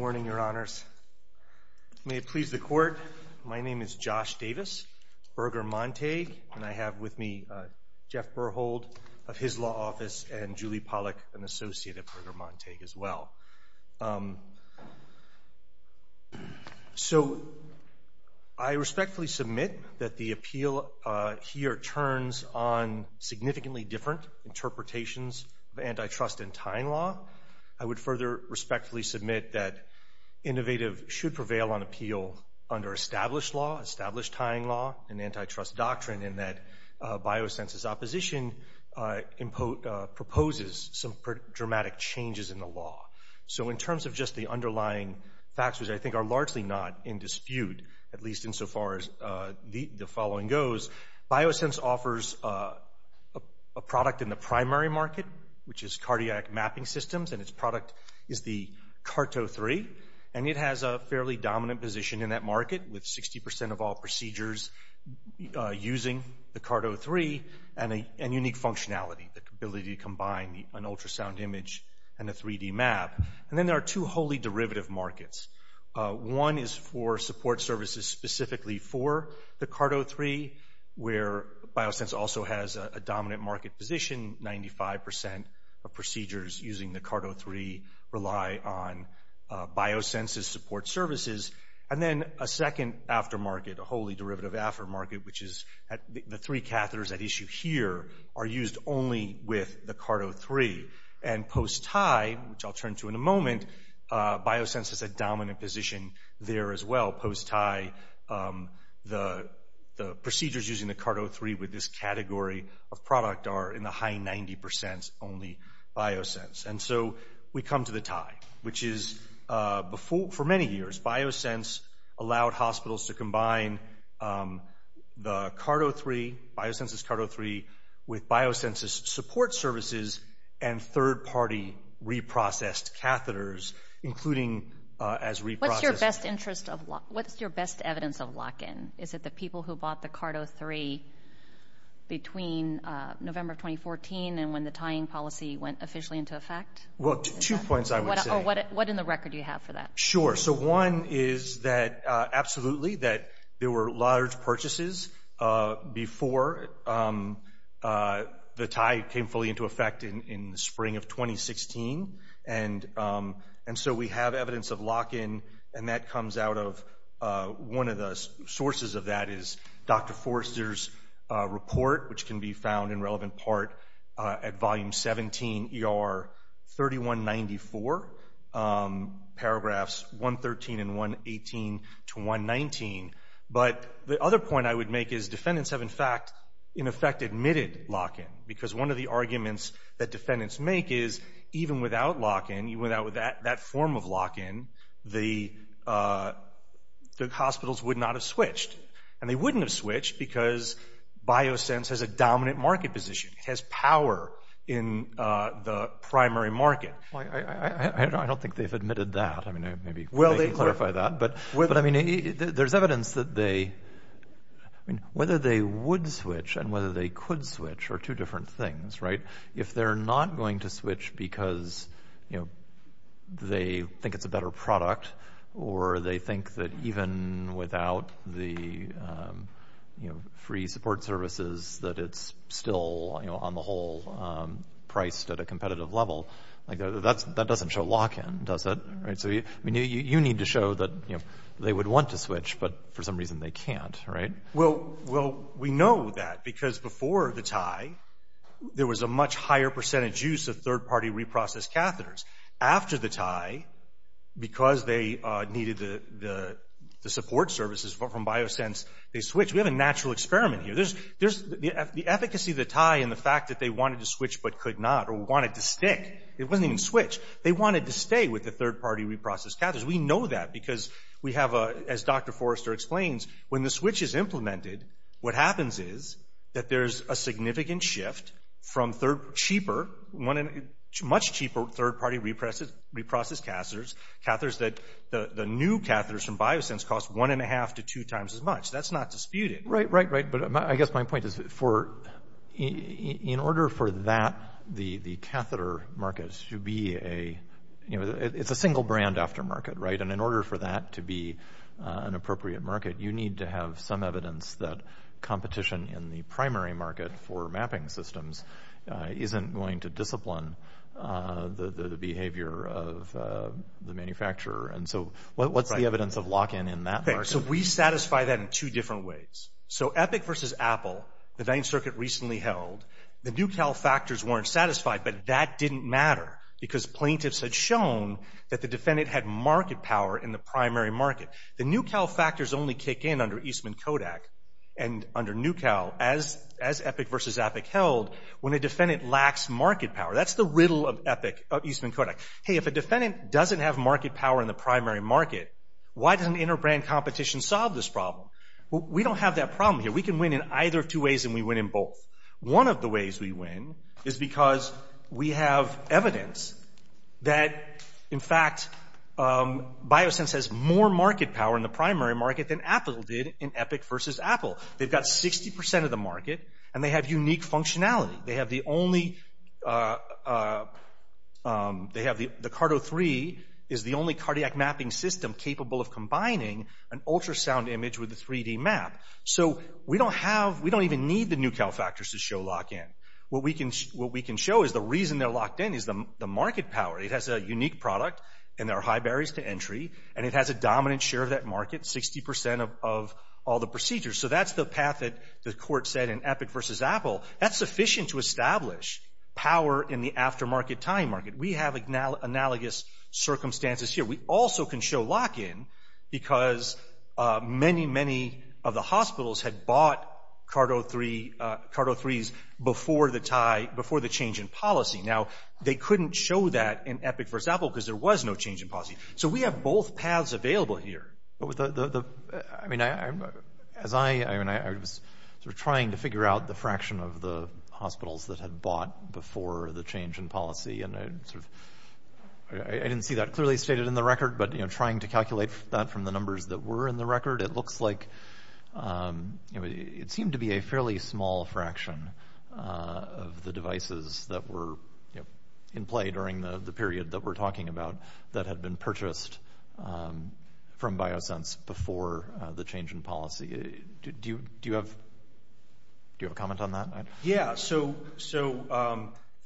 Morning, Your Honors. May it please the Court, my name is Josh Davis, Berger-Montague. And I have with me Jeff Berhold of his law office and Julie Pollack, an associate at Berger-Montague as well. So I respectfully submit that the appeal here turns on significantly different interpretations of antitrust and time law. I would further respectfully submit that innovative should prevail on appeal under established law, established time law, and antitrust doctrine, in that Biosense's opposition proposes some dramatic changes in the law. So in terms of just the underlying factors, I think are largely not in dispute, at least insofar as the following goes. Biosense offers a product in the primary market, which is Cardiac Mapping Systems, and its product is the CART-03. And it has a fairly dominant position in that market with 60% of all procedures using the CART-03 and unique functionality, the ability to combine an ultrasound image and a 3D map. And then there are two wholly derivative markets. One is for support services specifically for the CART-03, where Biosense also has a dominant market position, 95% of procedures using the CART-03 rely on Biosense's support services. And then a second aftermarket, a wholly derivative aftermarket, which is the three catheters at issue here are used only with the CART-03. And post-tie, which I'll turn to in a moment, Biosense has a dominant position there as well. Post-tie, the procedures using the CART-03 with this category of product are in the high 90% only Biosense. And so we come to the tie, which is for many years Biosense allowed hospitals to combine the CART-03, Biosense's CART-03 with Biosense's support services and third-party reprocessed catheters, including as reprocessed- What's your best interest of lock? What's your best evidence of lock-in? Is it the people who bought the CART-03 between November of 2014 and when the tying policy went officially into effect? Well, two points I would say. What in the record do you have for that? Sure, so one is that absolutely that there were large purchases before the tie came fully into effect in the spring of 2016. And so we have evidence of lock-in and that comes out of one of the sources of that is Dr. Forrester's report, which can be found in relevant part at volume 17, ER 3194, paragraphs 113 and 118 to 119. But the other point I would make is defendants have in fact, in effect admitted lock-in because one of the arguments that defendants make is even without lock-in, without that form of lock-in, the hospitals would not have switched. And they wouldn't have switched because BioSense has a dominant market position. It has power in the primary market. I don't think they've admitted that. I mean, maybe they can clarify that, but I mean, there's evidence that they, whether they would switch and whether they could switch are two different things, right? If they're not going to switch because, you know, they think it's a better product or they think that even without the, you know, free support services that it's still, you know, on the whole priced at a competitive level, like that doesn't show lock-in, does it? Right, so you need to show that, you know, they would want to switch, but for some reason they can't, right? Well, we know that because before the tie, there was a much higher percentage use of third-party reprocessed catheters. After the tie, because they needed the support services from BioSense, they switched. We have a natural experiment here. There's the efficacy of the tie and the fact that they wanted to switch but could not or wanted to stick. It wasn't even switch. They wanted to stay with the third-party reprocessed catheters. We know that because we have, as Dr. Forrester explains, when the switch is implemented, what happens is that there's a significant shift from third, cheaper, much cheaper third-party reprocessed catheters, catheters that the new catheters from BioSense cost one and a half to two times as much. That's not disputed. Right, right, right. But I guess my point is in order for that, the catheter market should be a, you know, it's a single brand aftermarket, right? And in order for that to be an appropriate market, you need to have some evidence that competition in the primary market for mapping systems isn't going to discipline the behavior of the manufacturer. And so what's the evidence of lock-in in that market? So we satisfy that in two different ways. So Epic versus Apple, the Ninth Circuit recently held, the new Cal factors weren't satisfied, but that didn't matter because plaintiffs had shown that the defendant had market power in the primary market. The new Cal factors only kick in under Eastman Kodak and under new Cal as Epic versus Epic held when a defendant lacks market power. That's the riddle of Eastman Kodak. Hey, if a defendant doesn't have market power in the primary market, why doesn't inter-brand competition solve this problem? Well, we don't have that problem here. We can win in either of two ways and we win in both. One of the ways we win is because we have evidence that in fact, BioSense has more market power in the primary market than Apple did in Epic versus Apple. They've got 60% of the market and they have unique functionality. They have the only, the Cardo 3 is the only cardiac mapping system capable of combining an ultrasound image with a 3D map. So we don't even need the new Cal factors to show lock-in. What we can show is the reason they're locked in is the market power. It has a unique product and there are high barriers to entry and it has a dominant share of that market, 60% of all the procedures. So that's the path that the court said in Epic versus Apple. That's sufficient to establish power in the aftermarket time market. We have analogous circumstances here. We also can show lock-in because many, many of the hospitals had bought Cardo 3s before the tie, before the change in policy. Now, they couldn't show that in Epic versus Apple because there was no change in policy. So we have both paths available here. But with the, I mean, as I, I mean, I was sort of trying to figure out the fraction of the hospitals that had bought before the change in policy. And I sort of, I didn't see that clearly stated in the record, but, you know, trying to calculate that from the numbers that were in the record, it looks like, you know, it seemed to be a fairly small fraction of the devices that were in play during the period that we're talking about that had been purchased from BioSense before the change in policy. Do you have a comment on that? Yeah, so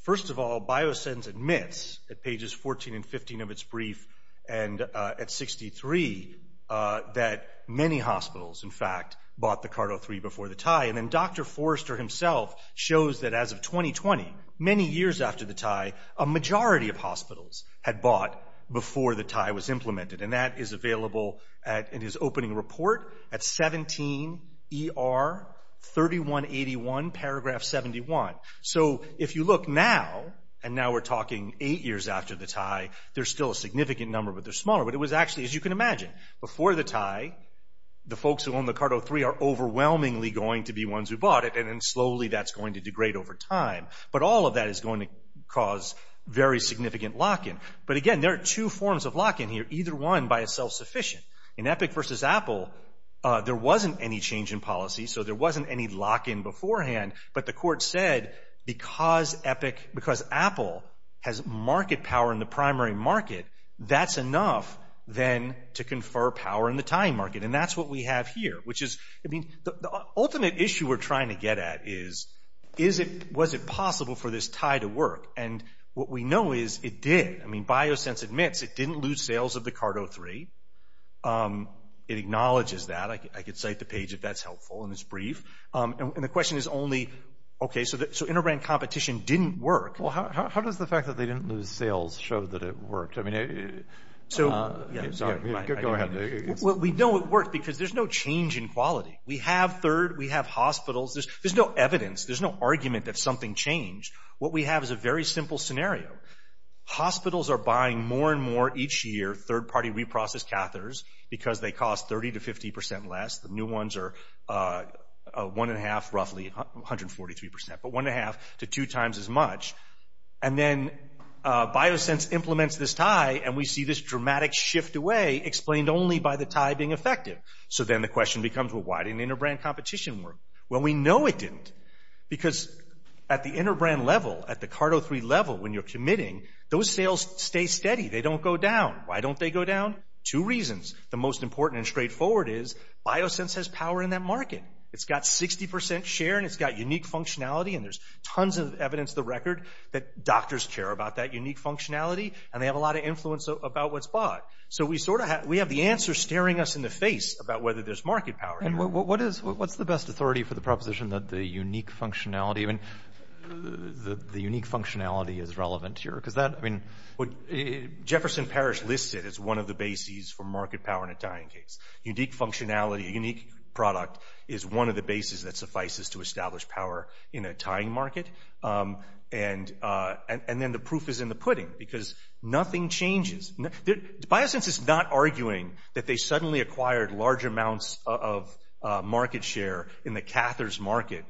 first of all, BioSense admits at pages 14 and 15 of its brief and at 63 that many hospitals, in fact, bought the Cardo 3 before the tie. And then Dr. Forrester himself shows that as of 2020, many years after the tie, a majority of hospitals had bought before the tie was implemented. And that is available at, in his opening report at 17 ER 3181 paragraph 71. So if you look now, and now we're talking eight years after the tie, there's still a significant number, but they're smaller. But it was actually, as you can imagine, before the tie, the folks who own the Cardo 3 are overwhelmingly going to be ones who bought it. And then slowly that's going to degrade over time. But all of that is going to cause very significant lock-in. But again, there are two forms of lock-in here, either one by itself sufficient. In Epic versus Apple, there wasn't any change in policy, so there wasn't any lock-in beforehand. But the court said, because Apple has market power in the primary market, that's enough then to confer power in the tie market. And that's what we have here, which is, I mean, the ultimate issue we're trying to get at is, was it possible for this tie to work? And what we know is it did. I mean, BioSense admits it didn't lose sales of the Cardo 3. It acknowledges that, I could cite the page if that's helpful in this brief. And the question is only, okay, so inter-brand competition didn't work. Well, how does the fact that they didn't lose sales show that it worked? I mean, yeah, sorry, go ahead. Well, we know it worked because there's no change in quality. We have third, we have hospitals. There's no evidence, there's no argument that something changed. What we have is a very simple scenario. Hospitals are buying more and more each year third-party reprocessed catheters because they cost 30 to 50% less. The new ones are 1 1⁄2, roughly 143%, but 1 1⁄2 to two times as much. And then BioSense implements this tie and we see this dramatic shift away explained only by the tie being effective. So then the question becomes, well, why didn't inter-brand competition work? Well, we know it didn't because at the inter-brand level, at the CARTO3 level when you're committing, those sales stay steady. They don't go down. Why don't they go down? Two reasons. The most important and straightforward is BioSense has power in that market. It's got 60% share and it's got unique functionality and there's tons of evidence of the record that doctors care about that unique functionality and they have a lot of influence about what's bought. So we have the answer staring us in the face about whether there's market power. And what's the best authority for the proposition that the unique functionality, I mean, the unique functionality is relevant here? Because that, I mean... Jefferson Parish lists it as one of the bases for market power in a tying case. Unique functionality, a unique product is one of the bases that suffices to establish power in a tying market. And then the proof is in the pudding because nothing changes. BioSense is not arguing that they suddenly acquired large amounts of market share in the catheters market,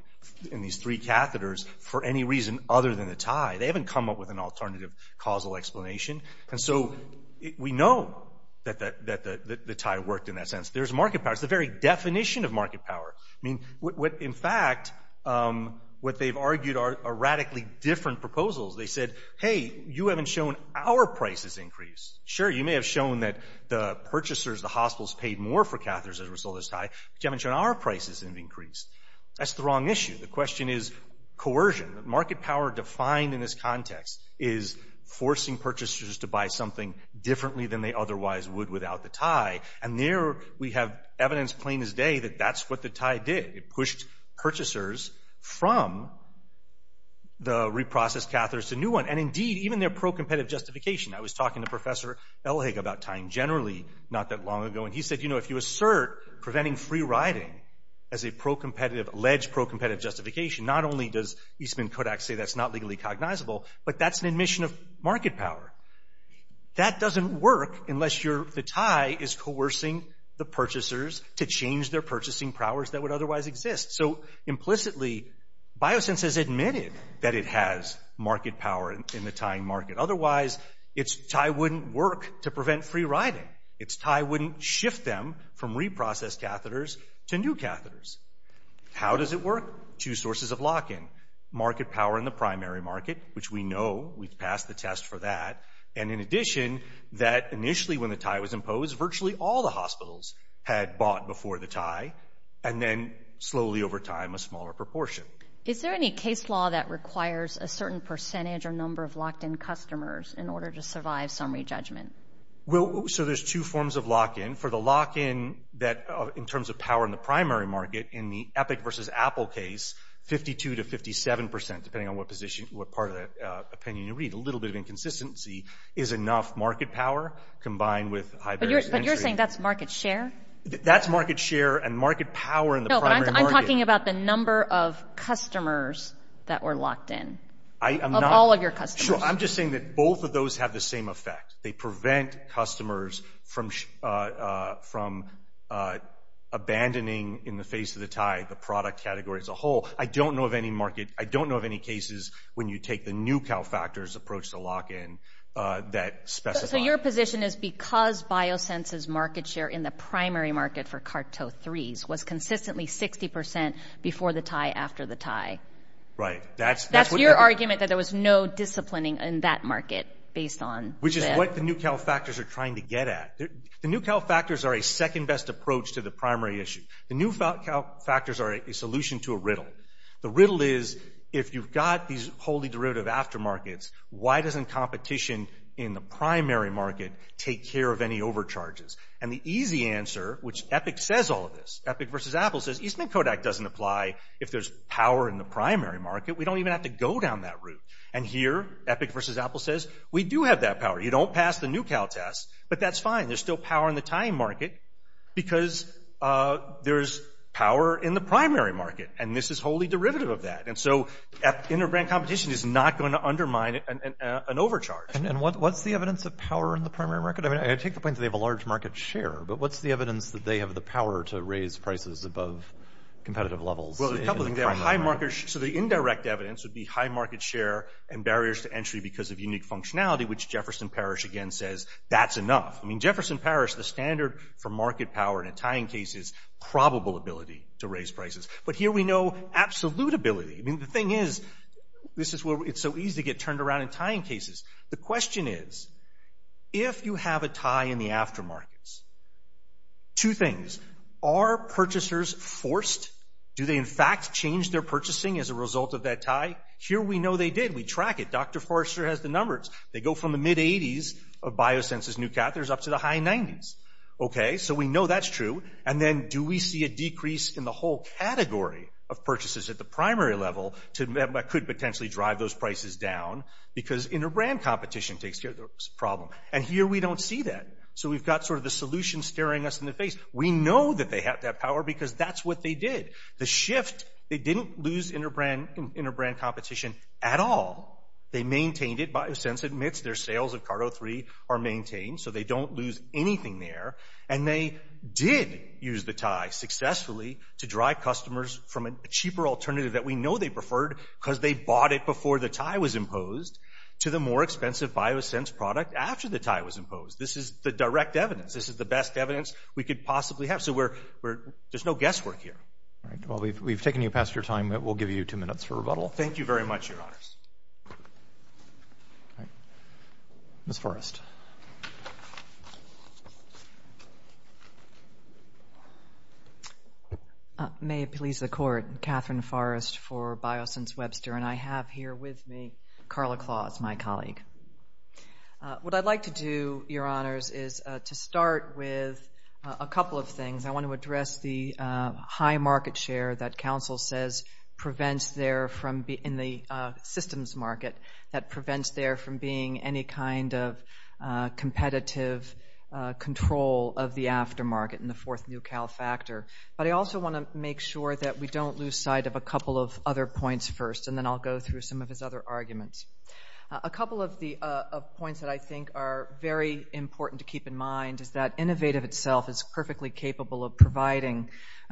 in these three catheters, for any reason other than the tie. They haven't come up with an alternative causal explanation. And so we know that the tie worked in that sense. There's market power. It's the very definition of market power. I mean, in fact, what they've argued are radically different proposals. They said, hey, you haven't shown our prices increase. Sure, you may have shown that the purchasers, the hospitals, paid more for catheters as a result of this tie, but you haven't shown our prices have increased. That's the wrong issue. The question is coercion. The market power defined in this context is forcing purchasers to buy something differently than they otherwise would without the tie. And there we have evidence, plain as day, that that's what the tie did. It pushed purchasers from the reprocessed catheters to new one. And indeed, even their pro-competitive justification. I was talking to Professor Elhigg about tying generally, not that long ago, and he said, you know, if you assert preventing free riding as a pro-competitive, alleged pro-competitive justification, not only does Eastman Kodak say that's not legally cognizable, but that's an admission of market power. That doesn't work unless the tie is coercing the purchasers to change their purchasing powers that would otherwise exist. So implicitly, Biosense has admitted that it has market power in the tying market. Otherwise, it's tie wouldn't work to prevent free riding. It's tie wouldn't shift them from reprocessed catheters to new catheters. How does it work? Two sources of lock-in, market power in the primary market, which we know, we've passed the test for that. And in addition, that initially when the tie was imposed, virtually all the hospitals had bought before the tie, and then slowly over time, a smaller proportion. Is there any case law that requires a certain percentage or number of locked-in customers in order to survive summary judgment? Well, so there's two forms of lock-in. For the lock-in that in terms of power in the primary market, in the Epic versus Apple case, 52 to 57%, depending on what part of that opinion you read, a little bit of inconsistency is enough market power combined with high barriers to entry. But you're saying that's market share? That's market share and market power in the primary market. No, but I'm talking about the number of customers that were locked in, of all of your customers. Sure, I'm just saying that both of those have the same effect. They prevent customers from abandoning in the face of the tie, the product category as a whole. I don't know of any market, I don't know of any cases when you take the new CalFactors approach to lock-in that specifies. So your position is because BioSense's market share in the primary market for Carto 3s was consistently 60% before the tie, after the tie. Right, that's- That's your argument that there was no disciplining in that market based on- Which is what the new CalFactors are trying to get at. The new CalFactors are a second best approach to the primary issue. The new CalFactors are a solution to a riddle. The riddle is if you've got these wholly derivative aftermarkets, why doesn't competition in the primary market take care of any overcharges? And the easy answer, which Epic says all of this, Epic versus Apple says Eastman-Kodak doesn't apply if there's power in the primary market. We don't even have to go down that route. And here, Epic versus Apple says, we do have that power. You don't pass the new Cal test, but that's fine. There's still power in the tying market because there's power in the primary market. And this is wholly derivative of that. And so inner brand competition is not going to undermine an overcharge. And what's the evidence of power in the primary market? I mean, I take the point that they have a large market share, but what's the evidence that they have the power to raise prices above competitive levels? Well, there's a couple of things. There are high markets. So the indirect evidence would be high market share and barriers to entry because of unique functionality, which Jefferson Parish, again, says that's enough. I mean, Jefferson Parish, the standard for market power in a tying case is probable ability to raise prices. But here we know absolute ability. I mean, the thing is, this is where it's so easy to get turned around in tying cases. The question is, if you have a tie in the aftermarkets, two things, are purchasers forced? Do they in fact change their purchasing as a result of that tie? Here we know they did. We track it. Dr. Forrester has the numbers. They go from the mid 80s of BioSense's new catheters up to the high 90s. Okay, so we know that's true. And then do we see a decrease in the whole category of purchases at the primary level that could potentially drive those prices down because inner brand competition takes care of the problem. And here we don't see that. So we've got sort of the solution staring us in the face. We know that they have that power because that's what they did. The shift, they didn't lose inner brand competition at all. They maintained it. BioSense admits their sales of CAR-03 are maintained. So they don't lose anything there. And they did use the tie successfully to drive customers from a cheaper alternative that we know they preferred because they bought it before the tie was imposed to the more expensive BioSense product after the tie was imposed. This is the direct evidence. This is the best evidence we could possibly have. So there's no guesswork here. All right, well, we've taken you past your time. We'll give you two minutes for rebuttal. Thank you very much, your honors. Ms. Forrest. May it please the court. Catherine Forrest for BioSense Webster. And I have here with me Carla Claus, my colleague. What I'd like to do, your honors, is to start with a couple of things. I want to address the high market share that counsel says prevents there from being, in the systems market, that prevents there from being any kind of competitive control of the aftermarket in the fourth new Cal factor. But I also want to make sure that we don't lose sight of a couple of other points first. And then I'll go through some of his other arguments. A couple of points that I think are very important to keep in mind is that Innovative itself is perfectly capable of providing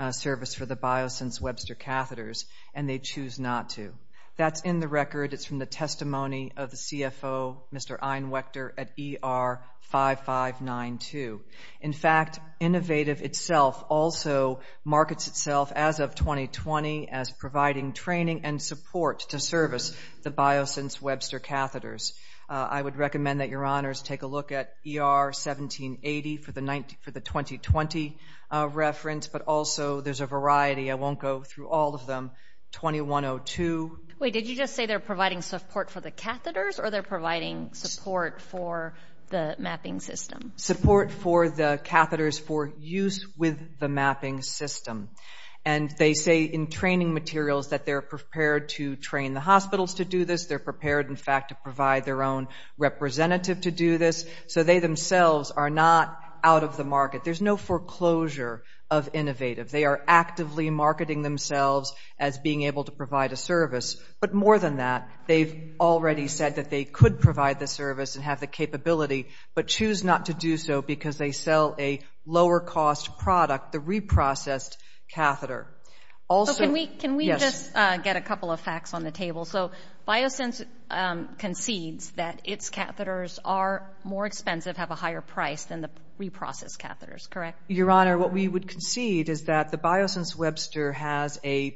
service for the BioSense Webster catheters, and they choose not to. That's in the record. It's from the testimony of the CFO, Mr. Einwechter, at ER 5592. In fact, Innovative itself also markets itself as of 2020 as providing training and support to service the BioSense Webster catheters. I would recommend that your honors take a look at ER 1780 for the 2020 reference, but also there's a variety, I won't go through all of them, 2102. Wait, did you just say they're providing support for the catheters or they're providing support for the mapping system? Support for the catheters for use with the mapping system. And they say in training materials that they're prepared to train the hospitals to do this. They're prepared, in fact, to provide their own representative to do this. So they themselves are not out of the market. There's no foreclosure of Innovative. They are actively marketing themselves as being able to provide a service. But more than that, they've already said that they could provide the service and have the capability, but choose not to do so because they sell a lower cost product, the reprocessed catheter. Can we just get a couple of facts on the table? So BioSense concedes that its catheters are more expensive, have a higher price than the reprocessed catheters, correct? Your honor, what we would concede is that the BioSense Webster has a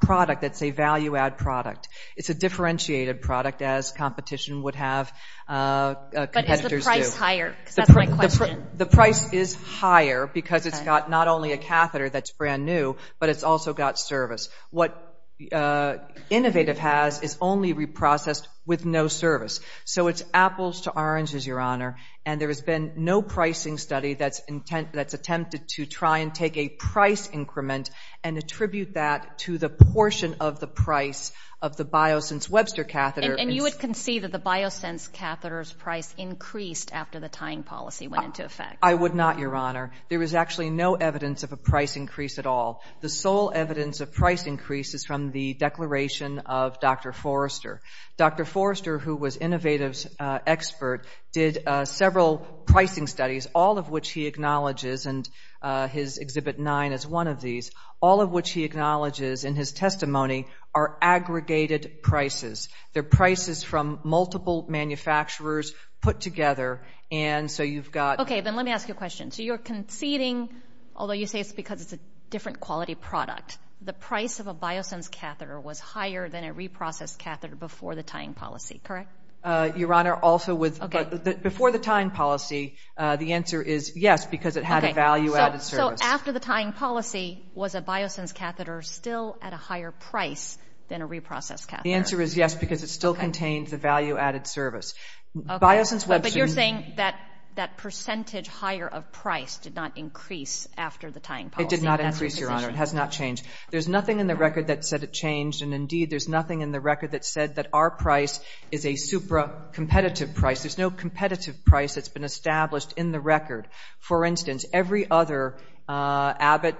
product that's a value-add product. It's a differentiated product as competition would have competitors do. But is the price higher? Because that's my question. The price is higher because it's got not only a catheter that's brand new, but it's also got service. What Innovative has is only reprocessed with no service. So it's apples to oranges, your honor, and there has been no pricing study that's attempted to try and take a price increment and attribute that to the portion of the price of the BioSense Webster catheter. And you would concede that the BioSense catheter's price increased after the tying policy went into effect? I would not, your honor. There is actually no evidence of a price increase at all. The sole evidence of price increase is from the declaration of Dr. Forrester. Dr. Forrester, who was Innovative's expert, did several pricing studies, all of which he acknowledges, and his Exhibit 9 is one of these, all of which he acknowledges in his testimony are aggregated prices. They're prices from multiple manufacturers put together, and so you've got- Okay, then let me ask you a question. So you're conceding, although you say it's because it's a different quality product, the price of a BioSense catheter was higher than a reprocessed catheter before the tying policy, correct? Your honor, also with- Okay. Before the tying policy, the answer is yes, because it had a value-added service. So after the tying policy, was a BioSense catheter still at a higher price than a reprocessed catheter? The answer is yes, because it still contains the value-added service. BioSense Webster- That percentage higher of price did not increase after the tying policy? It did not increase, your honor, it has not changed. There's nothing in the record that said it changed, and indeed, there's nothing in the record that said that our price is a supra-competitive price. There's no competitive price that's been established in the record. For instance, every other Abbott,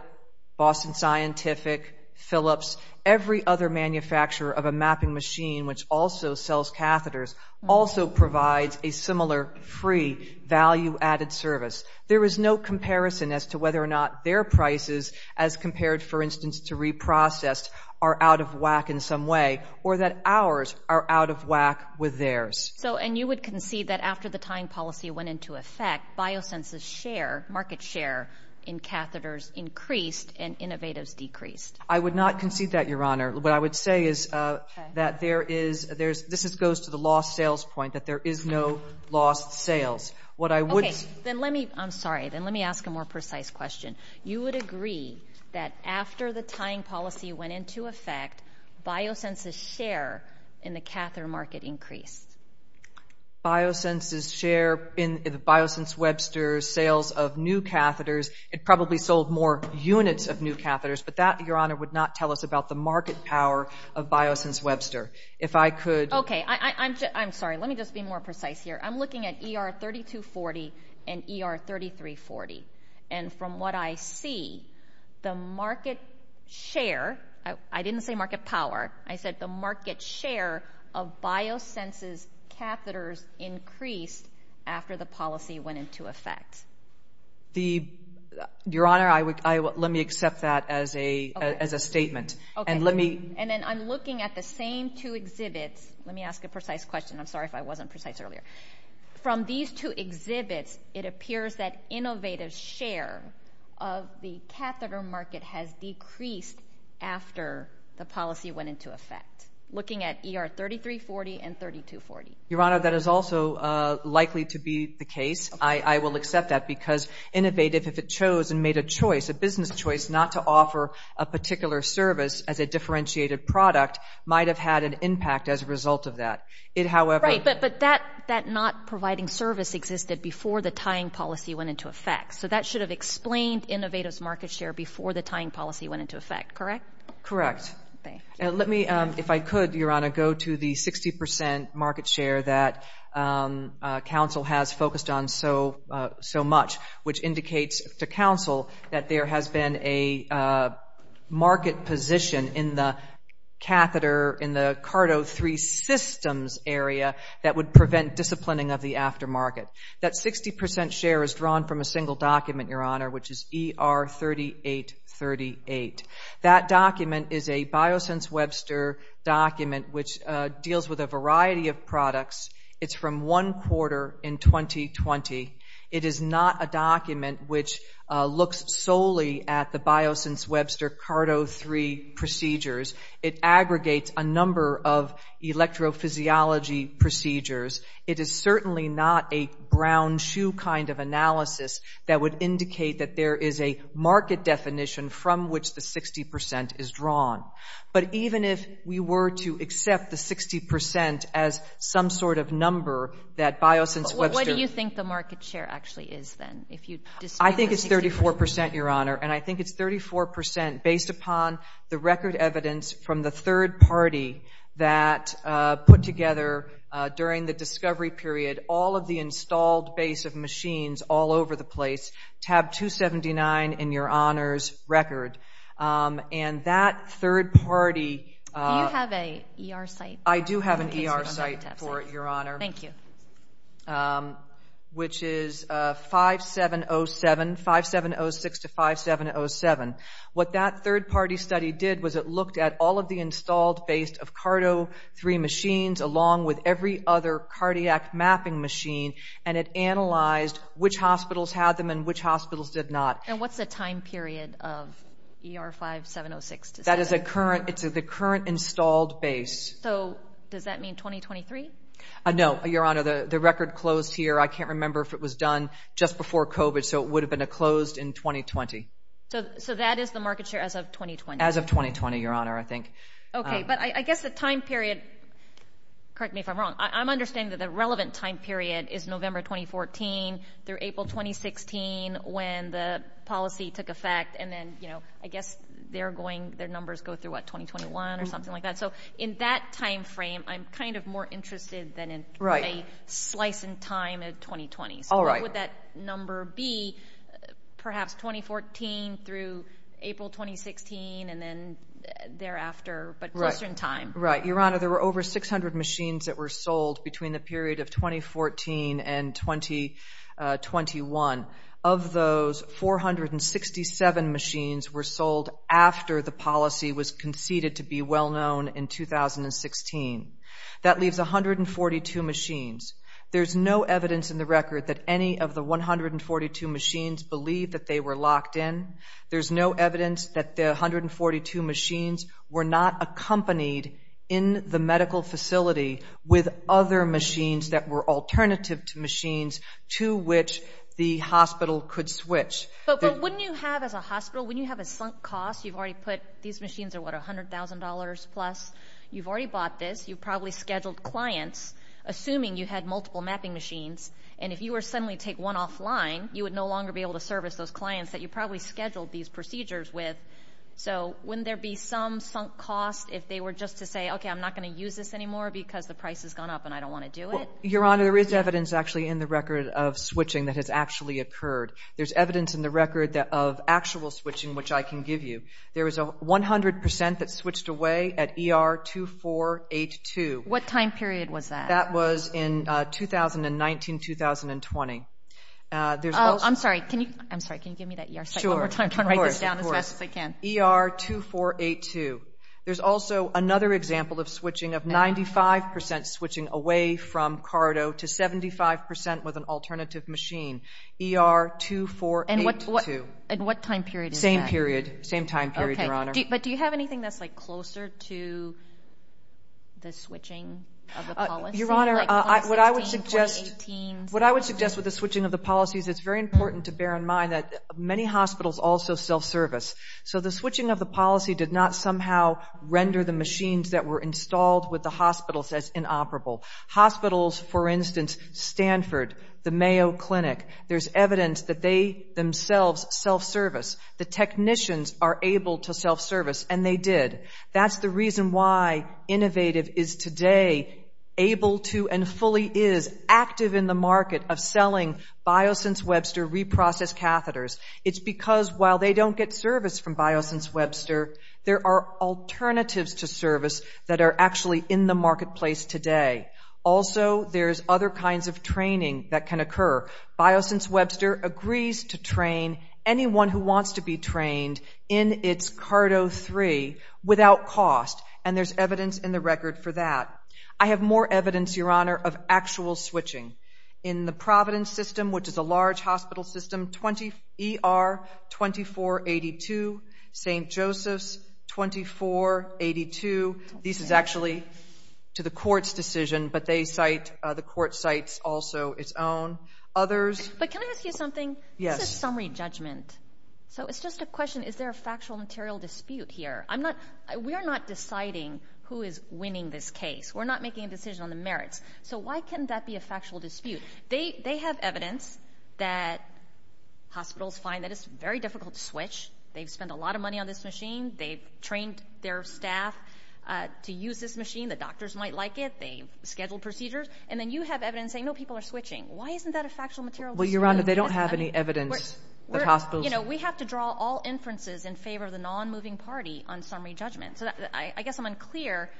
Boston Scientific, Philips, every other manufacturer of a mapping machine which also sells catheters also provides a similar free value-added service. There is no comparison as to whether or not their prices as compared, for instance, to reprocessed are out of whack in some way, or that ours are out of whack with theirs. So, and you would concede that after the tying policy went into effect, BioSense's share, market share in catheters increased, and Innovative's decreased. I would not concede that, your honor. What I would say is that there is, this goes to the lost sales point, that there is no lost sales. What I would say- Okay, then let me, I'm sorry, then let me ask a more precise question. You would agree that after the tying policy went into effect, BioSense's share in the catheter market increased? BioSense's share in BioSense Webster's sales of new catheters, it probably sold more units of new catheters, but that, your honor, would not tell us about the market power of BioSense Webster. If I could- Okay, I'm sorry, let me just be more precise here. I'm looking at ER 3240 and ER 3340, and from what I see, the market share, I didn't say market power, I said the market share of BioSense's catheters increased after the policy went into effect. The, your honor, I would, let me accept that as a statement, and let me- From these two exhibits, let me ask a precise question. I'm sorry if I wasn't precise earlier. From these two exhibits, it appears that innovative share of the catheter market has decreased after the policy went into effect, looking at ER 3340 and 3240. Your honor, that is also likely to be the case. I will accept that because innovative, if it chose and made a choice, a business choice, not to offer a particular service as a differentiated product, might have had an impact as a result of that. It, however- Right, but that not providing service existed before the tying policy went into effect. So that should have explained innovative's market share before the tying policy went into effect, correct? Correct. And let me, if I could, your honor, go to the 60% market share that council has focused on so much, which indicates to council that there has been a market position in the catheter, in the CARDO 3 systems area that would prevent disciplining of the aftermarket. That 60% share is drawn from a single document, your honor, which is ER 3838. That document is a Biosense Webster document which deals with a variety of products. It's from one quarter in 2020. It is not a document which looks solely at the Biosense Webster CARDO 3 procedures. It aggregates a number of electrophysiology procedures. It is certainly not a brown shoe kind of analysis that would indicate that there is a market definition from which the 60% is drawn. But even if we were to accept the 60% as some sort of number that Biosense Webster- What do you think the market share actually is then? If you- I think it's 34%, your honor. And I think it's 34% based upon the record evidence from the third party that put together during the discovery period, all of the installed base of machines all over the place, tab 279 in your honor's record. And that third party- Do you have a ER site? I do have an ER site for it, your honor. Thank you. Which is 5706 to 5707. What that third party study did was it looked at all of the installed base of CARDO 3 machines along with every other cardiac mapping machine and it analyzed which hospitals had them and which hospitals did not. And what's the time period of ER 5706 to 7? That is the current installed base. So does that mean 2023? No, your honor, the record closed here. I can't remember if it was done just before COVID. So it would have been a closed in 2020. So that is the market share as of 2020? As of 2020, your honor, I think. Okay, but I guess the time period, correct me if I'm wrong. I'm understanding that the relevant time period is November, 2014 through April, 2016 when the policy took effect. And then, I guess they're going, their numbers go through what 2021 or something like that. So in that timeframe, I'm kind of more interested than in a slice in time of 2020. So what would that number be? Perhaps 2014 through April, 2016, and then thereafter, but closer in time. Right, your honor, there were over 600 machines that were sold between the period of 2014 and 2021. Of those, 467 machines were sold after the policy was conceded to be well-known in 2016. That leaves 142 machines. There's no evidence in the record that any of the 142 machines believe that they were locked in. There's no evidence that the 142 machines were not accompanied in the medical facility with other machines that were alternative to machines to which the hospital could switch. But wouldn't you have, as a hospital, wouldn't you have a sunk cost? These machines are, what, $100,000 plus? You've already bought this. You've probably scheduled clients, assuming you had multiple mapping machines, and if you were to suddenly take one offline, you would no longer be able to service those clients that you probably scheduled these procedures with. So wouldn't there be some sunk cost if they were just to say, okay, I'm not going to use this anymore because the price has gone up and I don't want to do it? Your honor, there is evidence, actually, in the record of switching that has actually occurred. There's evidence in the record of actual switching, which I can give you. There was a 100% that switched away at ER 2482. What time period was that? That was in 2019, 2020. I'm sorry, can you give me that ER site one more time? Sure, of course. I want to write this down as fast as I can. ER 2482. There's also another example of switching of 95% switching away from CARDO to 75% with an alternative machine. ER 2482. And what time period is that? Same time period, your honor. But do you have anything that's closer to the switching of the policy? Your honor, what I would suggest with the switching of the policies, it's very important to bear in mind that many hospitals also self-service. So the switching of the policy did not somehow render the machines that were installed with the hospitals as inoperable. Hospitals, for instance, Stanford, the Mayo Clinic, there's evidence that they themselves self-service. The technicians are able to self-service, and they did. That's the reason why Innovative is today able to and fully is active in the market of selling BioSense Webster reprocess catheters. It's because while they don't get service from BioSense Webster, there are alternatives to service that are actually in the marketplace today. Also, there's other kinds of training that can occur. BioSense Webster agrees to train anyone who wants to be trained in its CARDO3 without cost, and there's evidence in the record for that. I have more evidence, your honor, of actual switching. In the Providence system, which is a large hospital system, ER 2482, St. Joseph's 2482. This is actually to the court's decision, but they cite, the court cites also its own. Others. But can I ask you something? Yes. Summary judgment. So it's just a question, is there a factual material dispute here? I'm not, we are not deciding who is winning this case. We're not making a decision on the merits. So why can't that be a factual dispute? They have evidence that hospitals find that it's very difficult to switch. They've spent a lot of money on this machine. They've trained their staff to use this machine. The doctors might like it. They've scheduled procedures. And then you have evidence saying, no, people are switching. Why isn't that a factual material dispute? Well, Your Honor, they don't have any evidence that hospitals. We have to draw all inferences in favor of the non-moving party on summary judgment. So I guess I'm unclear.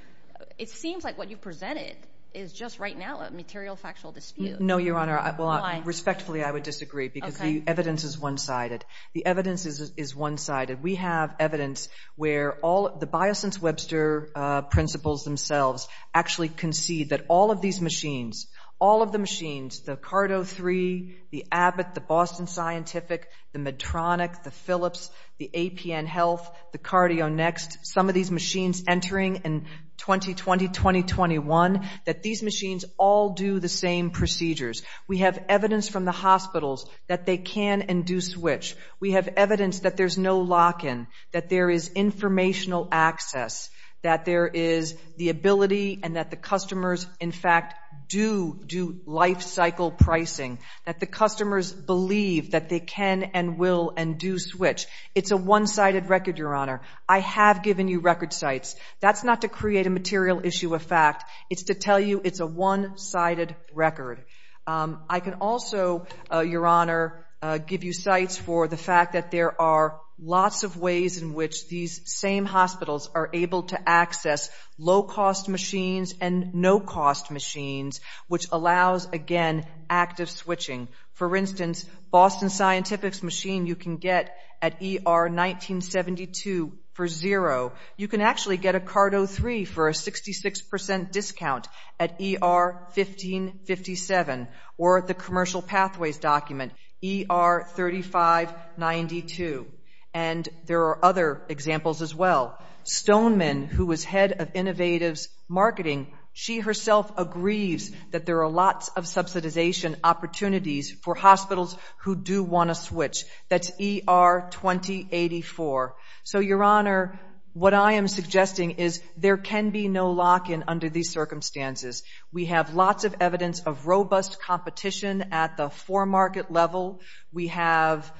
It seems like what you presented is just right now a material factual dispute. No, Your Honor. Well, respectfully, I would disagree because the evidence is one-sided. The evidence is one-sided. We have evidence where all, the Biosense-Webster principles themselves actually concede that all of these machines, all of the machines, the Cardo 3, the Abbott, the Boston Scientific, the Medtronic, the Philips, the APN Health, the CardioNext, some of these machines entering in 2020, 2021, that these machines all do the same procedures. We have evidence from the hospitals that they can and do switch. We have evidence that there's no lock-in, that there is informational access, that there is the ability and that the customers, in fact, do do life cycle pricing, that the customers believe that they can and will and do switch. It's a one-sided record, Your Honor. I have given you record sites. That's not to create a material issue of fact. It's to tell you it's a one-sided record. I can also, Your Honor, give you sites for the fact that there are lots of ways in which these same hospitals are able to access low-cost machines and no-cost machines, which allows, again, active switching. For instance, Boston Scientific's machine you can get at ER1972 for zero. You can actually get a Cardo 3 for a 66% discount at ER1557 or at the Commercial Pathways document, ER3592. And there are other examples as well. Stoneman, who was head of Innovatives Marketing, she herself agrees that there are lots of subsidization opportunities for hospitals who do want to switch. That's ER2084. So, Your Honor, what I am suggesting is there can be no lock-in under these circumstances. We have lots of evidence of robust competition at the four-market level. We have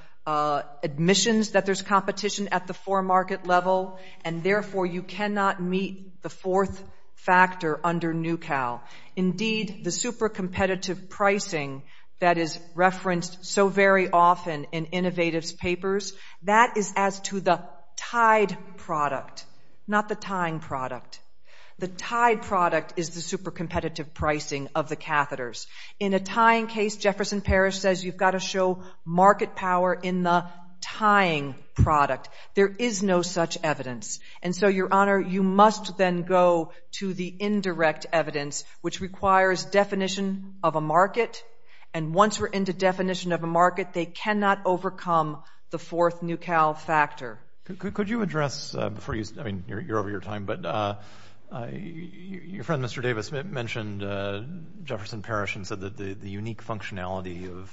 admissions that there's competition at the four-market level. And therefore, you cannot meet the fourth factor under NUCAL. Indeed, the super-competitive pricing that is referenced so very often in Innovatives papers, that is as to the tied product, not the tying product. The tied product is the super-competitive pricing of the catheters. In a tying case, Jefferson Parish says you've got to show market power in the tying product. There is no such evidence. And so, Your Honor, you must then go to the indirect evidence, which requires definition of a market. And once we're into definition of a market, they cannot overcome the fourth NUCAL factor. Could you address, before you, I mean, you're over your time, but your friend, Mr. Davis, mentioned Jefferson Parish and said that the unique functionality of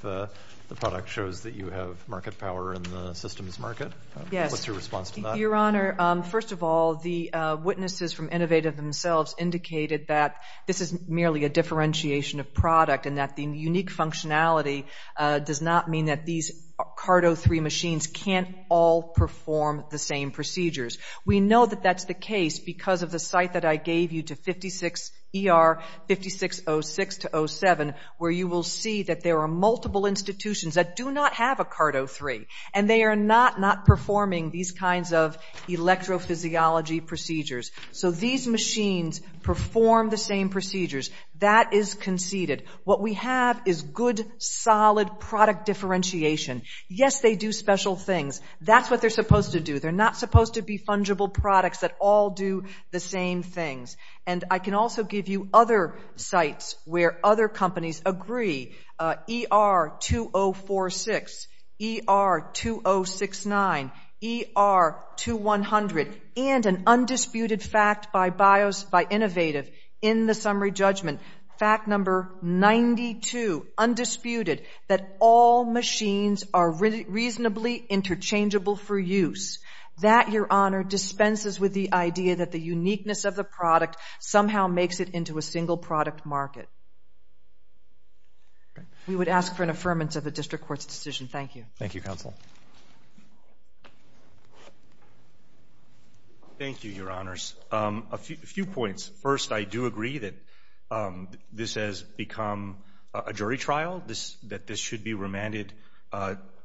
the product shows that you have market power in the systems market. What's your response to that? Your Honor, first of all, the witnesses from Innovative themselves indicated that this is merely a differentiation of product and that the unique functionality does not mean that these CART-03 machines can't all perform the same procedures. We know that that's the case because of the site that I gave you to 56ER-5606-07, where you will see that there are multiple institutions that do not have a CART-03. And they are not not performing these kinds of electrophysiology procedures. So these machines perform the same procedures. That is conceded. What we have is good, solid product differentiation. Yes, they do special things. That's what they're supposed to do. They're not supposed to be fungible products that all do the same things. And I can also give you other sites where other companies agree. ER-2046, ER-2069, ER-2100, and an undisputed fact by Innovative in the summary judgment, fact number 92, undisputed, that all machines are reasonably interchangeable for use. That, Your Honor, dispenses with the idea that the uniqueness of the product somehow makes it into a single product market. We would ask for an affirmance of the district court's decision. Thank you. Thank you, Counsel. Thank you, Your Honors. A few points. First, I do agree that this has become a jury trial, that this should be remanded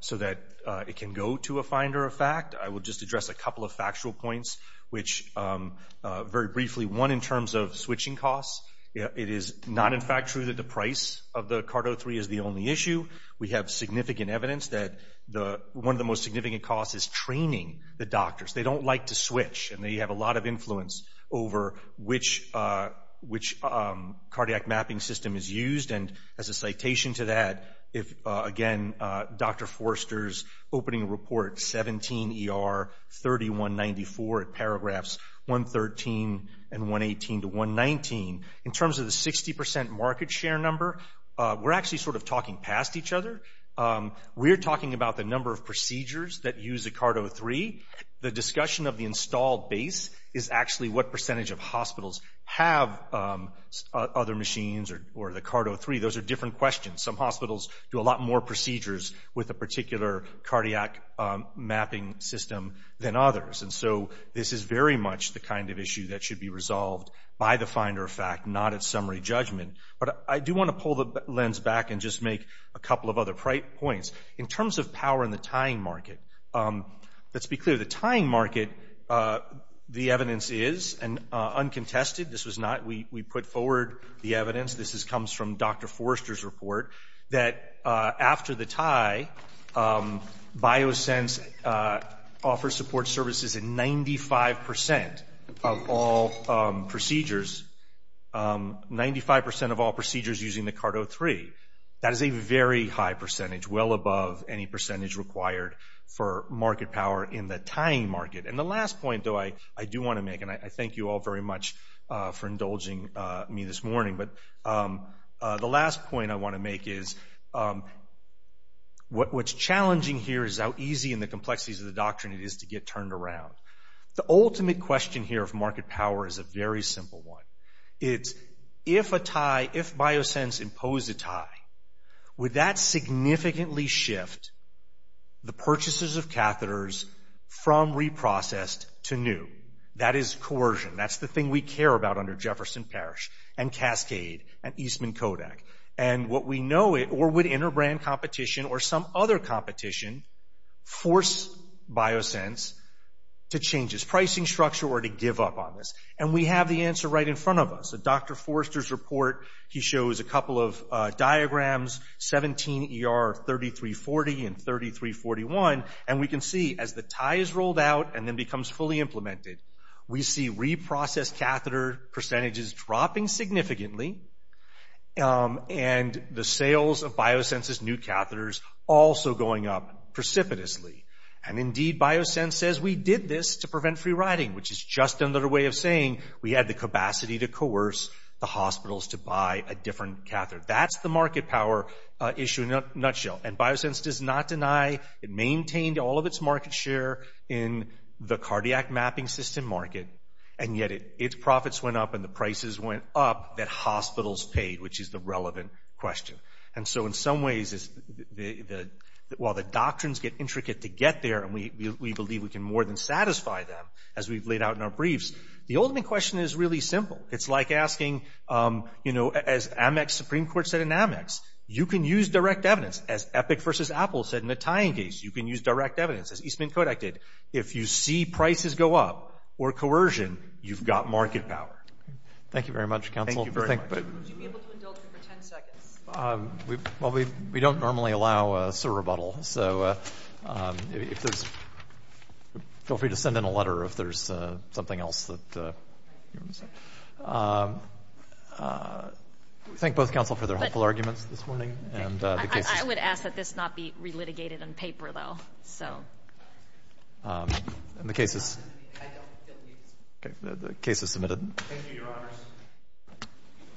so that it can go to a finder of fact. I will just address a couple of factual points, which, very briefly, one, in terms of switching costs. It is not, in fact, true that the price of the CAR-03 is the only issue. We have significant evidence that one of the most significant costs is training the doctors. They don't like to switch, and they have a lot of influence over which cardiac mapping system is used, and as a citation to that, if, again, Dr. Forster's opening report, 17 ER-3194, at paragraphs 113 and 118 to 119, in terms of the 60% market share number, we're actually sort of talking past each other. We're talking about the number of procedures that use a CAR-03. The discussion of the installed base is actually what percentage of hospitals have other machines or the CAR-03. Those are different questions. Some hospitals do a lot more procedures with a particular cardiac mapping system than others, and so this is very much the kind of issue that should be resolved by the finder of fact, not at summary judgment, but I do want to pull the lens back and just make a couple of other points. In terms of power in the tying market, let's be clear. The tying market, the evidence is, and uncontested, this was not, we put forward the evidence, this comes from Dr. Forster's report, that after the tie, BioSense offers support services in 95% of all procedures, 95% of all procedures using the CAR-03. That is a very high percentage, well above any percentage required for market power in the tying market, and the last point, though, I do want to make, and I thank you all very much for indulging me this morning, but the last point I want to make is what's challenging here is how easy and the complexities of the doctrine it is to get turned around. The ultimate question here of market power is a very simple one. It's if a tie, if BioSense imposed a tie, would that significantly shift the purchases of catheters from reprocessed to new? That is coercion. That's the thing we care about under Jefferson Parish and Cascade and Eastman Kodak, and what we know, or would interbrand competition or some other competition force BioSense to change its pricing structure or to give up on this, and we have the answer right in front of us. A Dr. Forster's report, he shows a couple of diagrams, 17 ER 3340 and 3341, and we can see as the tie is rolled out and then becomes fully implemented, we see reprocessed catheter percentages dropping significantly, and the sales of BioSense's new catheters also going up precipitously, and indeed BioSense says we did this to prevent free riding, which is just another way of saying we had the capacity to coerce the hospitals to buy a different catheter. That's the market power issue in a nutshell, and BioSense does not deny, it maintained all of its market share in the cardiac mapping system market, and yet its profits went up and the prices went up that hospitals paid, which is the relevant question, and so in some ways, while the doctrines get intricate to get there, and we believe we can more than satisfy them as we've laid out in our briefs, the ultimate question is really simple. It's like asking, you know, as Amex Supreme Court said in Amex, you can use direct evidence, as Epic versus Apple said in the tying case, you can use direct evidence, as Eastman Kodak did. If you see prices go up or coercion, you've got market power. Thank you very much, counsel. Thank you very much. Would you be able to indulge me for 10 seconds? Well, we don't normally allow a surrebuttal, so if there's, feel free to send in a letter if there's something else that you want to say. Thank both counsel for their helpful arguments this morning, and the case is submitted. I would ask that this not be re-litigated on paper, though, so. And the case is? I don't feel the need. Okay, the case is submitted. Thank you, your honors.